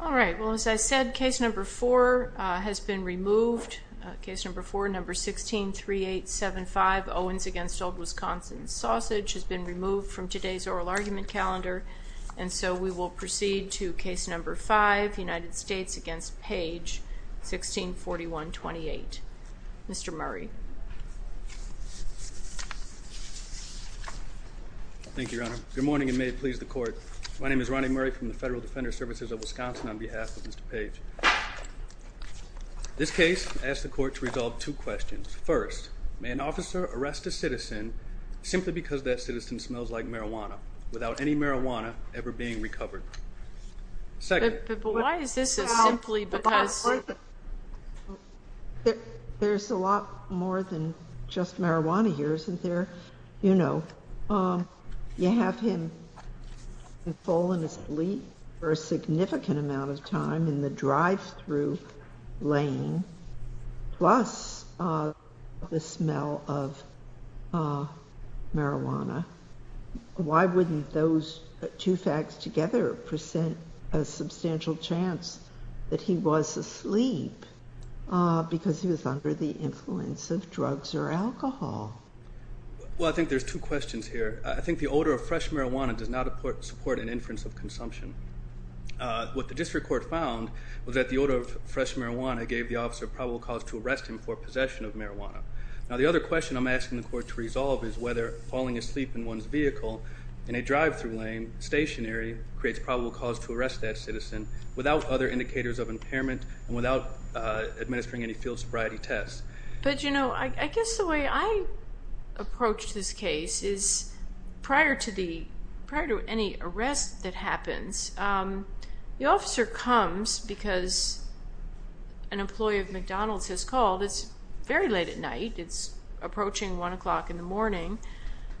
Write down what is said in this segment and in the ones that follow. All right. Well, as I said, case number four has been removed. Case number four, number 163875 Owens against Old Wisconsin Sausage has been removed from today's oral argument calendar, and so we will proceed to case number five, United States against Paige, 1641-28. Mr. Murray. Thank you, Your Honor. Good morning, and may it please the court. My name is Ronnie Murray from the Federal Defender Services of Wisconsin on behalf of Mr. Paige. This case asked the court to resolve two questions. First, may an officer arrest a citizen simply because that citizen smells like marijuana without any marijuana ever being recovered? Second, why is this is simply because there's a lot more than just marijuana here, isn't there? You know, you have him fallen asleep for a significant amount of time in the drive-thru lane, plus the smell of marijuana. Why wouldn't those two facts together present a substantial chance that he was asleep because he was under the influence of drugs or alcohol? Well, I think there's two questions here. I think the odor of fresh marijuana does not support an inference of consumption. What the district court found was that the odor of fresh marijuana gave the officer probable cause to arrest him for possession of marijuana. Now, the other question I'm asking the court to resolve is whether falling asleep in one's vehicle in a drive-thru lane, stationary, creates probable cause to arrest that citizen without other indicators of impairment and without administering any field sobriety tests. But you know, I guess the way I approached this case is prior to any arrest that happens, the officer comes because an employee of McDonald's has called. It's very late at night. It's approaching one o'clock in the morning.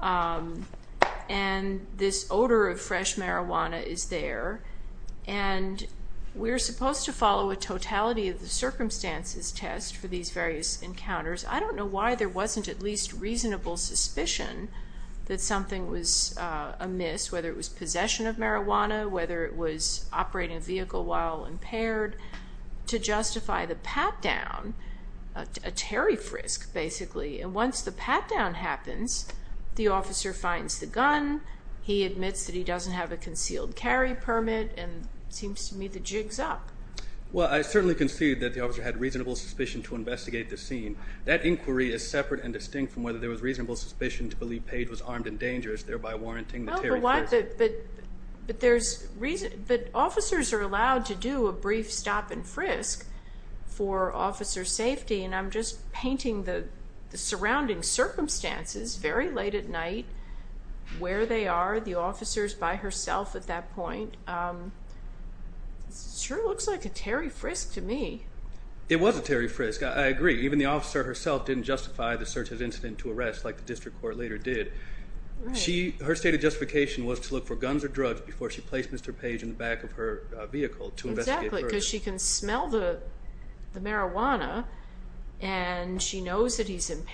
And this odor of fresh marijuana is there. And we're supposed to follow a circumstances test for these various encounters. I don't know why there wasn't at least reasonable suspicion that something was amiss, whether it was possession of marijuana, whether it was operating a vehicle while impaired, to justify the pat-down, a Terry Frisk, basically. And once the pat-down happens, the officer finds the gun. He admits that he doesn't have a concealed carry permit and seems to me the jig's up. Well, I certainly concede that the officer had reasonable suspicion to investigate the scene. That inquiry is separate and distinct from whether there was reasonable suspicion to believe Page was armed and dangerous, thereby warranting the Terry Frisk. But officers are allowed to do a brief stop and frisk for officer safety. And I'm just painting the surrounding circumstances, very late at night, where they are, the officers by herself at that point, sure looks like a Terry Frisk to me. It was a Terry Frisk, I agree. Even the officer herself didn't justify the search as incident to arrest like the district court later did. Her stated justification was to look for guns or drugs before she placed Mr. Page in the back of her vehicle to investigate. Exactly, because she can smell the marijuana. And she knows that he's been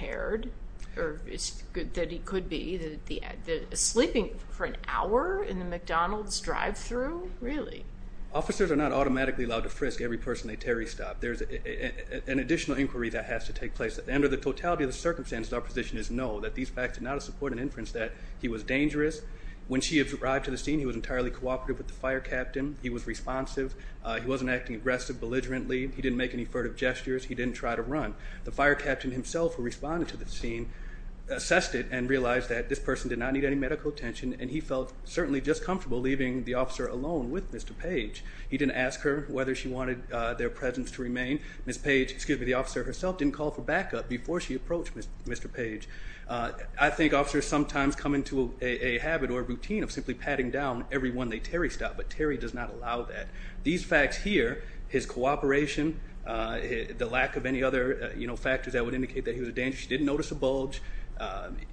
shipping for an hour in the McDonald's drive-thru, really. Officers are not automatically allowed to frisk every person at Terry's stop. There's an additional inquiry that has to take place. Under the totality of the circumstances, our position is no, that these facts are not a support and inference that he was dangerous. When she arrived to the scene, he was entirely cooperative with the fire captain. He was responsive. He wasn't acting aggressive, belligerently. He didn't make any furtive gestures. He didn't try to run. The fire captain himself who responded to the scene assessed it and realized that this person did not need any medical attention and he felt certainly just comfortable leaving the officer alone with Mr. Page. He didn't ask her whether she wanted their presence to remain. Ms. Page, excuse me, the officer herself didn't call for backup before she approached Mr. Page. I think officers sometimes come into a habit or routine of simply patting down everyone at Terry's stop, but Terry does not allow that. These facts here, his cooperation, the lack of any other, you know, factors that would indicate that he was dangerous. She didn't notice a bulge.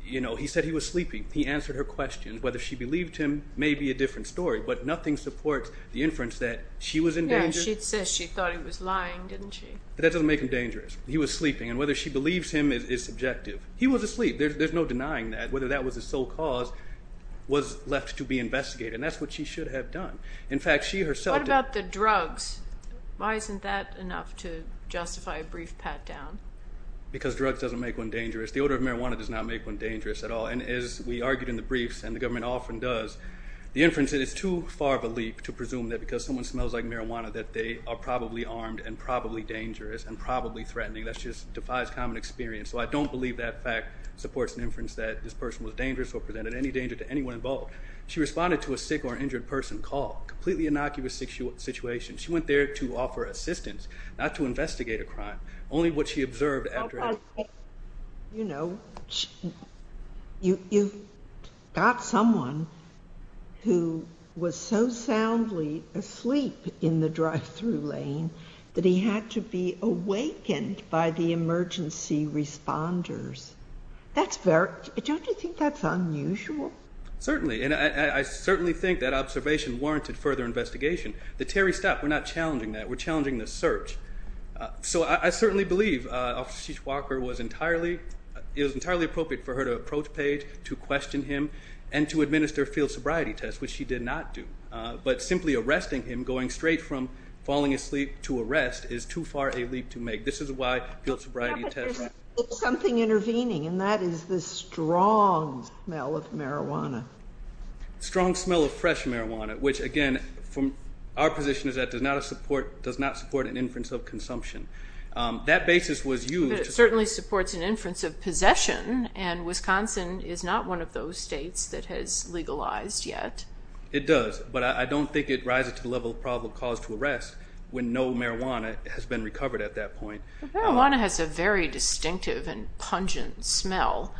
You know, he said he was sleeping. He answered her questions. Whether she believed him may be a different story, but nothing supports the inference that she was in danger. Yeah, she says she thought he was lying, didn't she? That doesn't make him dangerous. He was sleeping and whether she believes him is subjective. He was asleep. There's no denying that. Whether that was his sole cause was left to be investigated and that's what she should have done. In fact, she herself... What about the drugs? Why isn't that enough to make one dangerous? The odor of marijuana does not make one dangerous at all, and as we argued in the briefs, and the government often does, the inference that it's too far of a leap to presume that because someone smells like marijuana that they are probably armed and probably dangerous and probably threatening. That just defies common experience, so I don't believe that fact supports an inference that this person was dangerous or presented any danger to anyone involved. She responded to a sick or injured person called. Completely innocuous situation. She went there to offer assistance, not to you know, you've got someone who was so soundly asleep in the drive-thru lane that he had to be awakened by the emergency responders. That's very... Don't you think that's unusual? Certainly, and I certainly think that observation warranted further investigation. The Terry stop. We're not challenging that. We're entirely appropriate for her to approach Paige, to question him, and to administer field sobriety tests, which she did not do, but simply arresting him, going straight from falling asleep to arrest, is too far a leap to make. This is why field sobriety tests... Something intervening, and that is the strong smell of marijuana. Strong smell of fresh marijuana, which again, from our position is that does not support an inference of consumption. That basis was used... It certainly supports an inference of possession, and Wisconsin is not one of those states that has legalized yet. It does, but I don't think it rises to the level of probable cause to arrest when no marijuana has been recovered at that point. Marijuana has a very distinctive and pungent smell,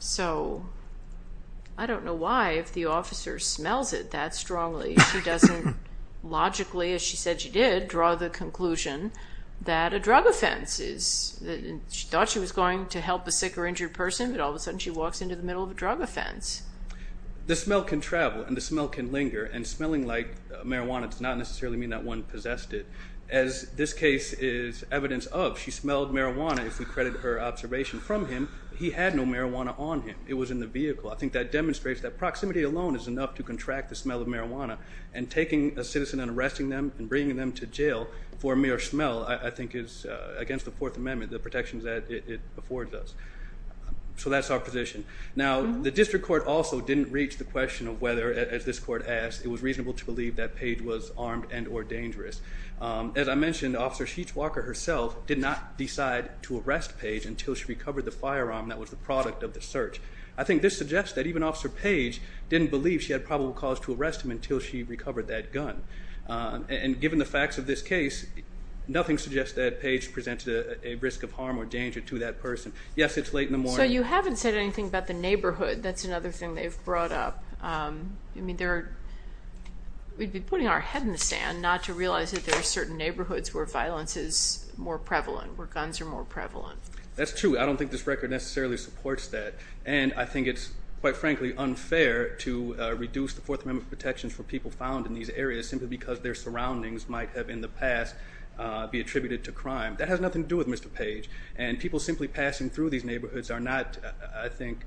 so I don't know why, if the officer smells it that strongly, she doesn't logically, as a drug offense is. She thought she was going to help a sick or injured person, but all of a sudden she walks into the middle of a drug offense. The smell can travel, and the smell can linger, and smelling like marijuana does not necessarily mean that one possessed it. As this case is evidence of, she smelled marijuana, if we credit her observation from him. He had no marijuana on him. It was in the vehicle. I think that demonstrates that proximity alone is enough to contract the smell of marijuana, and taking a citizen and against the Fourth Amendment, the protections that it affords us. So, that's our position. Now, the district court also didn't reach the question of whether, as this court asked, it was reasonable to believe that Page was armed and or dangerous. As I mentioned, Officer Sheets Walker herself did not decide to arrest Page until she recovered the firearm that was the product of the search. I think this suggests that even Officer Page didn't believe she had probable cause to arrest him until she recovered that gun, and given the facts of this case, nothing suggests that Page presented a risk of harm or danger to that person. Yes, it's late in the morning. So, you haven't said anything about the neighborhood. That's another thing they've brought up. I mean, they're, we'd be putting our head in the sand not to realize that there are certain neighborhoods where violence is more prevalent, where guns are more prevalent. That's true. I don't think this record necessarily supports that, and I think it's, quite frankly, unfair to reduce the Fourth Amendment protections for people found in these areas simply because their surroundings might have in the past be attributed to crime. That has nothing to do with Mr. Page, and people simply passing through these neighborhoods are not, I think,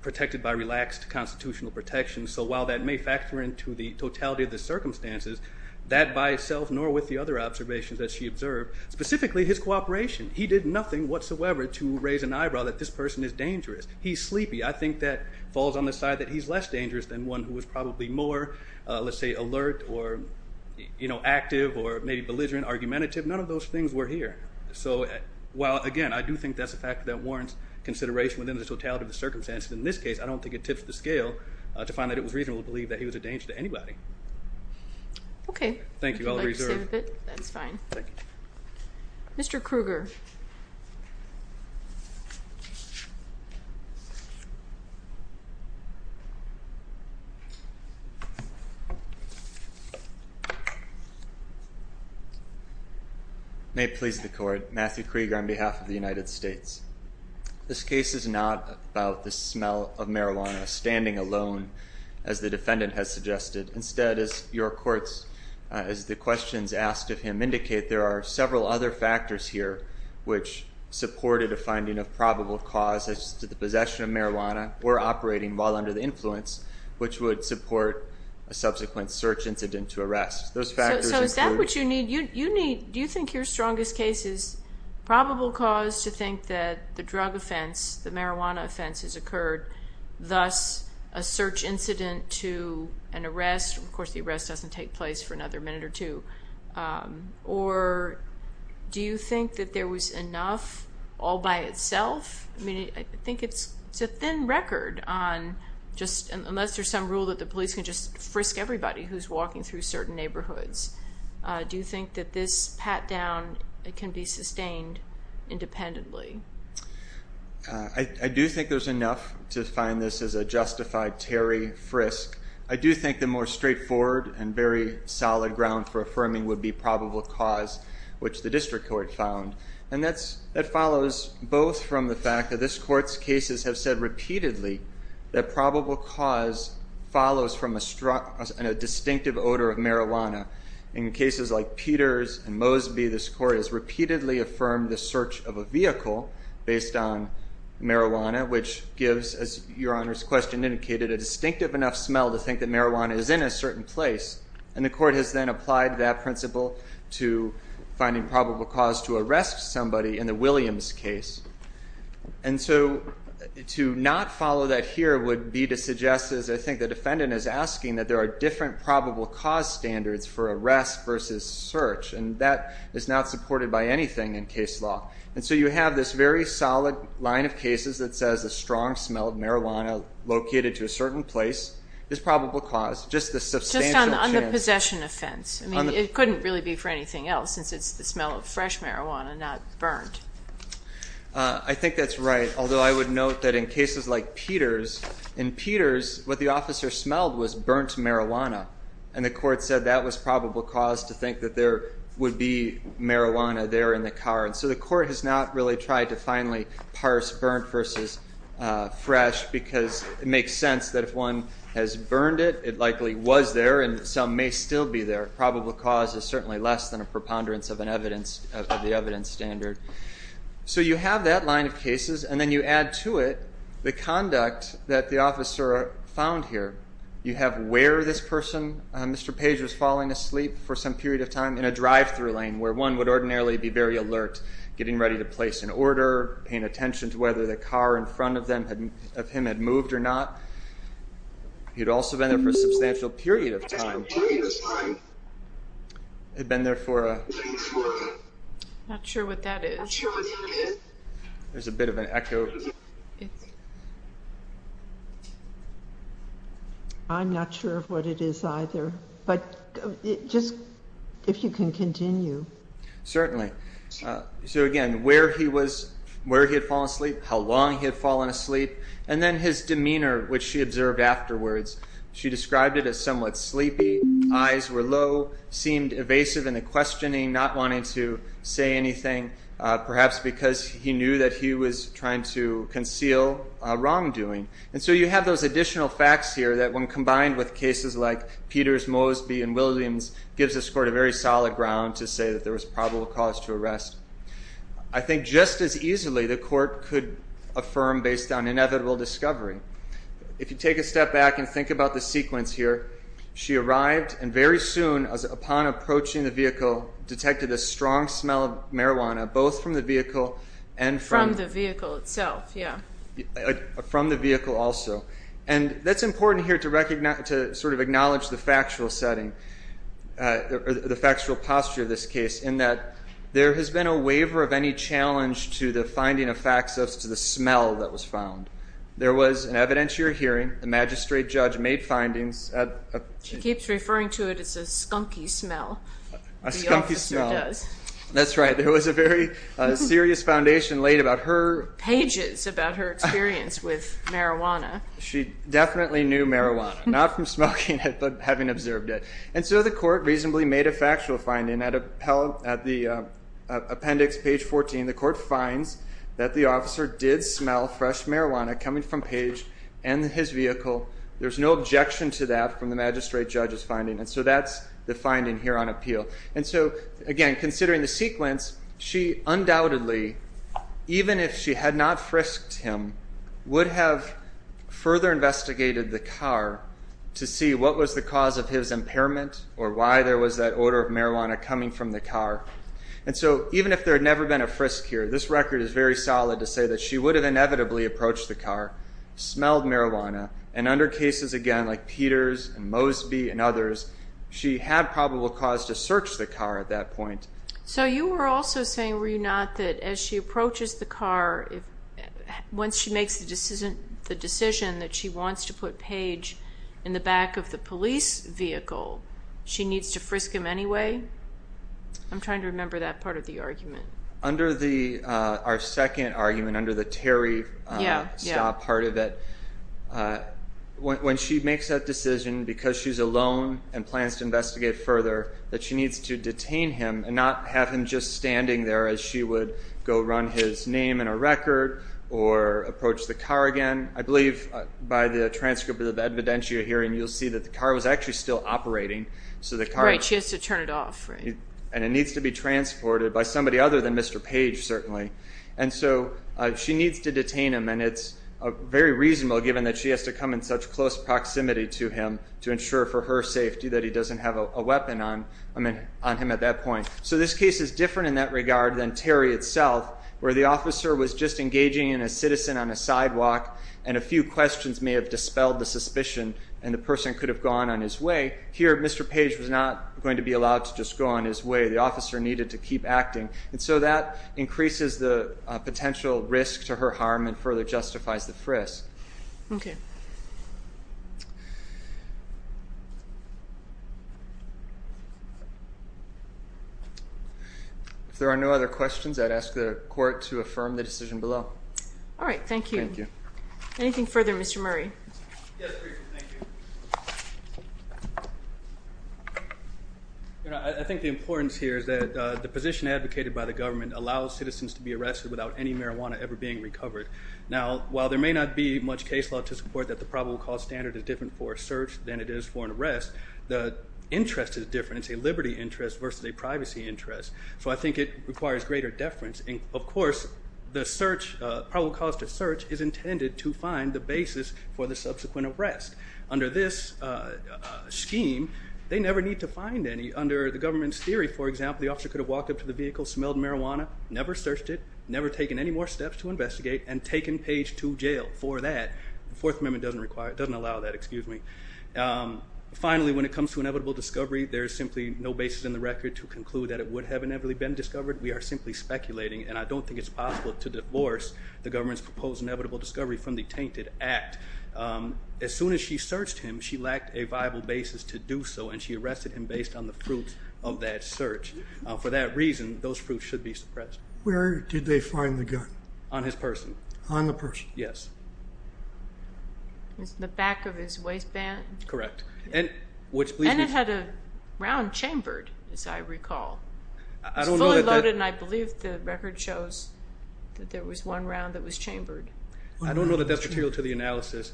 protected by relaxed constitutional protections. So, while that may factor into the totality of the circumstances, that by itself, nor with the other observations that she observed, specifically his cooperation. He did nothing whatsoever to raise an eyebrow that this person is dangerous. He's sleepy. I think that falls on the than one who was probably more, let's say, alert, or, you know, active, or maybe belligerent, argumentative. None of those things were here. So, while, again, I do think that's a fact that warrants consideration within the totality of the circumstances. In this case, I don't think it tips the scale to find that it was reasonable to believe that he was a danger to anybody. Okay. Thank you. I'll reserve. it. That's fine. Mr. Kruger. May it please the court. Matthew Kruger on behalf of the United States. This case is not about the smell of marijuana standing alone, as the defendant has asked of him. Indicate there are several other factors here which supported a finding of probable cause as to the possession of marijuana, or operating while under the influence, which would support a subsequent search incident to arrest. Those factors include... So, is that what you need? You need... Do you think your strongest case is probable cause to think that the drug offense, the marijuana offense, has occurred, thus a search incident to an arrest? Of course, the or do you think that there was enough all by itself? I mean, I think it's a thin record on just, unless there's some rule that the police can just frisk everybody who's walking through certain neighborhoods. Do you think that this pat down, it can be sustained independently? I do think there's enough to find this as a justified Terry frisk. I do think the more straightforward and very solid ground for affirming would be probable cause, which the district court found. And that follows both from the fact that this court's cases have said repeatedly that probable cause follows from a distinctive odor of marijuana. In cases like Peters and Mosby, this court has repeatedly affirmed the search of a vehicle based on marijuana, which gives, as your honor's question indicated, a distinctive enough smell to think that marijuana is in a certain place. And the court has then applied that principle to finding probable cause to arrest somebody in the Williams case. And so to not follow that here would be to suggest, as I think the defendant is asking, that there are different probable cause standards for arrest versus search. And that is not supported by anything in case law. And so you have this very solid line of cases that says a strong smell of marijuana located to a certain place is probable cause, just a substantial chance. Just on the possession offense. I mean, it couldn't really be for anything else since it's the smell of fresh marijuana, not burnt. I think that's right, although I would note that in cases like Peters, in Peters what the officer smelled was burnt marijuana. And the court said that was probable cause to think that there would be marijuana there in the car. And so the court has not really tried to finally parse burnt versus fresh, because it makes sense that if one has burned it, it likely was there and some may still be there. Probable cause is certainly less than a preponderance of an evidence, of the evidence standard. So you have that line of cases and then you add to it the conduct that the officer found here. You have where this person, Mr. Page, was falling asleep for some period of time in a drive-thru lane, where one would ordinarily be very alert, getting ready to place an order, paying attention to whether the car in front of him had moved or not. He'd also been there for a substantial period of time, had been there for a... Not sure what that is. There's a bit of an echo. I'm not sure of what it is either, but just if you can continue. Certainly. So again, where he was, where he had fallen asleep, how long he had fallen asleep, and then his demeanor, which she observed afterwards. She described it as somewhat sleepy, eyes were low, seemed evasive in the questioning, not wanting to say anything, perhaps because he knew that he was trying to conceal wrongdoing. And so you have those additional facts here that when combined with cases like Peters, Mosby, and Williams, gives this court a very solid ground to say that there was probable cause to arrest. I think just as easily the court could affirm based on inevitable discovery. If you take a step back and think about the sequence here, she arrived and very soon, upon approaching the vehicle, detected a strong smell of marijuana, both from the vehicle and... From the vehicle itself, yeah. From the vehicle also. And that's important here to recognize, to sort of acknowledge the factual setting, the factual posture of this case, in that there has been a waiver of any challenge to the finding of facts as to the smell that was found. There was an evidentiary hearing, the magistrate judge made findings... She keeps referring to it as a skunky smell. A skunky smell. The officer does. That's right. There was a very serious foundation laid about her... Pages about her experience with marijuana. She definitely knew marijuana, not from smoking it, but having observed it. And so the court reasonably made a factual finding at the appendix, page 14. The court finds that the officer did smell fresh marijuana coming from Page and his vehicle. There's no objection to that from the magistrate judge's finding. And so that's the finding here on appeal. And so, again, considering the sequence, she undoubtedly, even if she had not frisked him, would have further investigated the car to see what was the cause of his impairment or why there was that odor of marijuana coming from the car. And so even if there had never been a frisk here, this record is very solid to say that she would have inevitably approached the car, smelled marijuana, and under cases, again, like Peters and Mosby and others, she had probable cause to search the car at that point. So you were also saying, were you not, that as she approaches the car, once she makes the decision that she wants to put Page in the back of the police vehicle, she needs to frisk him anyway? I'm trying to remember that part of the argument. Under our second argument, under the Terry stop part of it, when she makes that decision, because she's alone and plans to not have him just standing there as she would go run his name in a record or approach the car again, I believe by the transcript of the evidentiary hearing, you'll see that the car was actually still operating. Right, she has to turn it off. And it needs to be transported by somebody other than Mr. Page, certainly. And so she needs to detain him and it's very reasonable given that she has to come in such close proximity to him to ensure for her safety that he doesn't have a weapon on him at that point. So this case is different in that regard than Terry itself, where the officer was just engaging in a citizen on a sidewalk and a few questions may have dispelled the suspicion and the person could have gone on his way. Here, Mr. Page was not going to be allowed to just go on his way. The officer needed to keep acting. And so that increases the likelihood that he could have gone on his way. If there are no other questions, I'd ask the court to affirm the decision below. All right, thank you. Anything further, Mr. Murray? Yes, thank you. I think the importance here is that the position advocated by the government allows citizens to be arrested without any marijuana ever being recovered. Now, while there may not be much case law to support that the probable cause standard is different for a search than it is for an arrest, the interest is different. It's a liberty interest versus a privacy interest. So I think it requires greater deference. And, of course, the search, probable cause to search, is intended to find the basis for the subsequent arrest. Under this scheme, they never need to find any. Under the government's theory, for example, the officer could have walked up to the vehicle, smelled marijuana, never searched it, never taken any more steps to investigate, and taken Page to jail for that. The Fourth Amendment doesn't allow that. Finally, when it comes to inevitable discovery, there is simply no basis in the record to conclude that it would have inevitably been discovered. We are simply speculating, and I don't think it's possible to divorce the government's proposed inevitable discovery from the tainted act. As soon as she searched him, she lacked a viable basis to do so, and she arrested him based on the fruits of that search. For that reason, those fruits should be suppressed. Where did they find the gun? On his person. On the person. Yes. The back of his waistband? Correct. And it had a round chambered, as I recall. It was fully loaded, and I believe the record shows that there was one round that was chambered. I don't know that that's material to the analysis.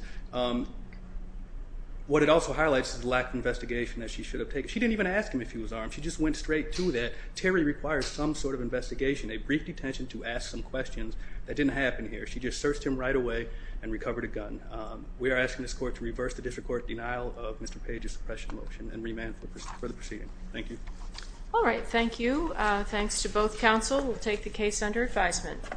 What it also highlights is the lack of investigation that she should have taken. She didn't even ask him if he was armed. She just went straight to that. Terry requires some sort of investigation, a brief detention to ask some questions. That didn't happen here. She just searched him right away and recovered a gun. We are asking this court to reverse the district court's denial of Mr. Page's suppression motion and remand for the proceeding. Thank you. All right. Thank you. Thanks to both counsel. We'll take the case under advisement.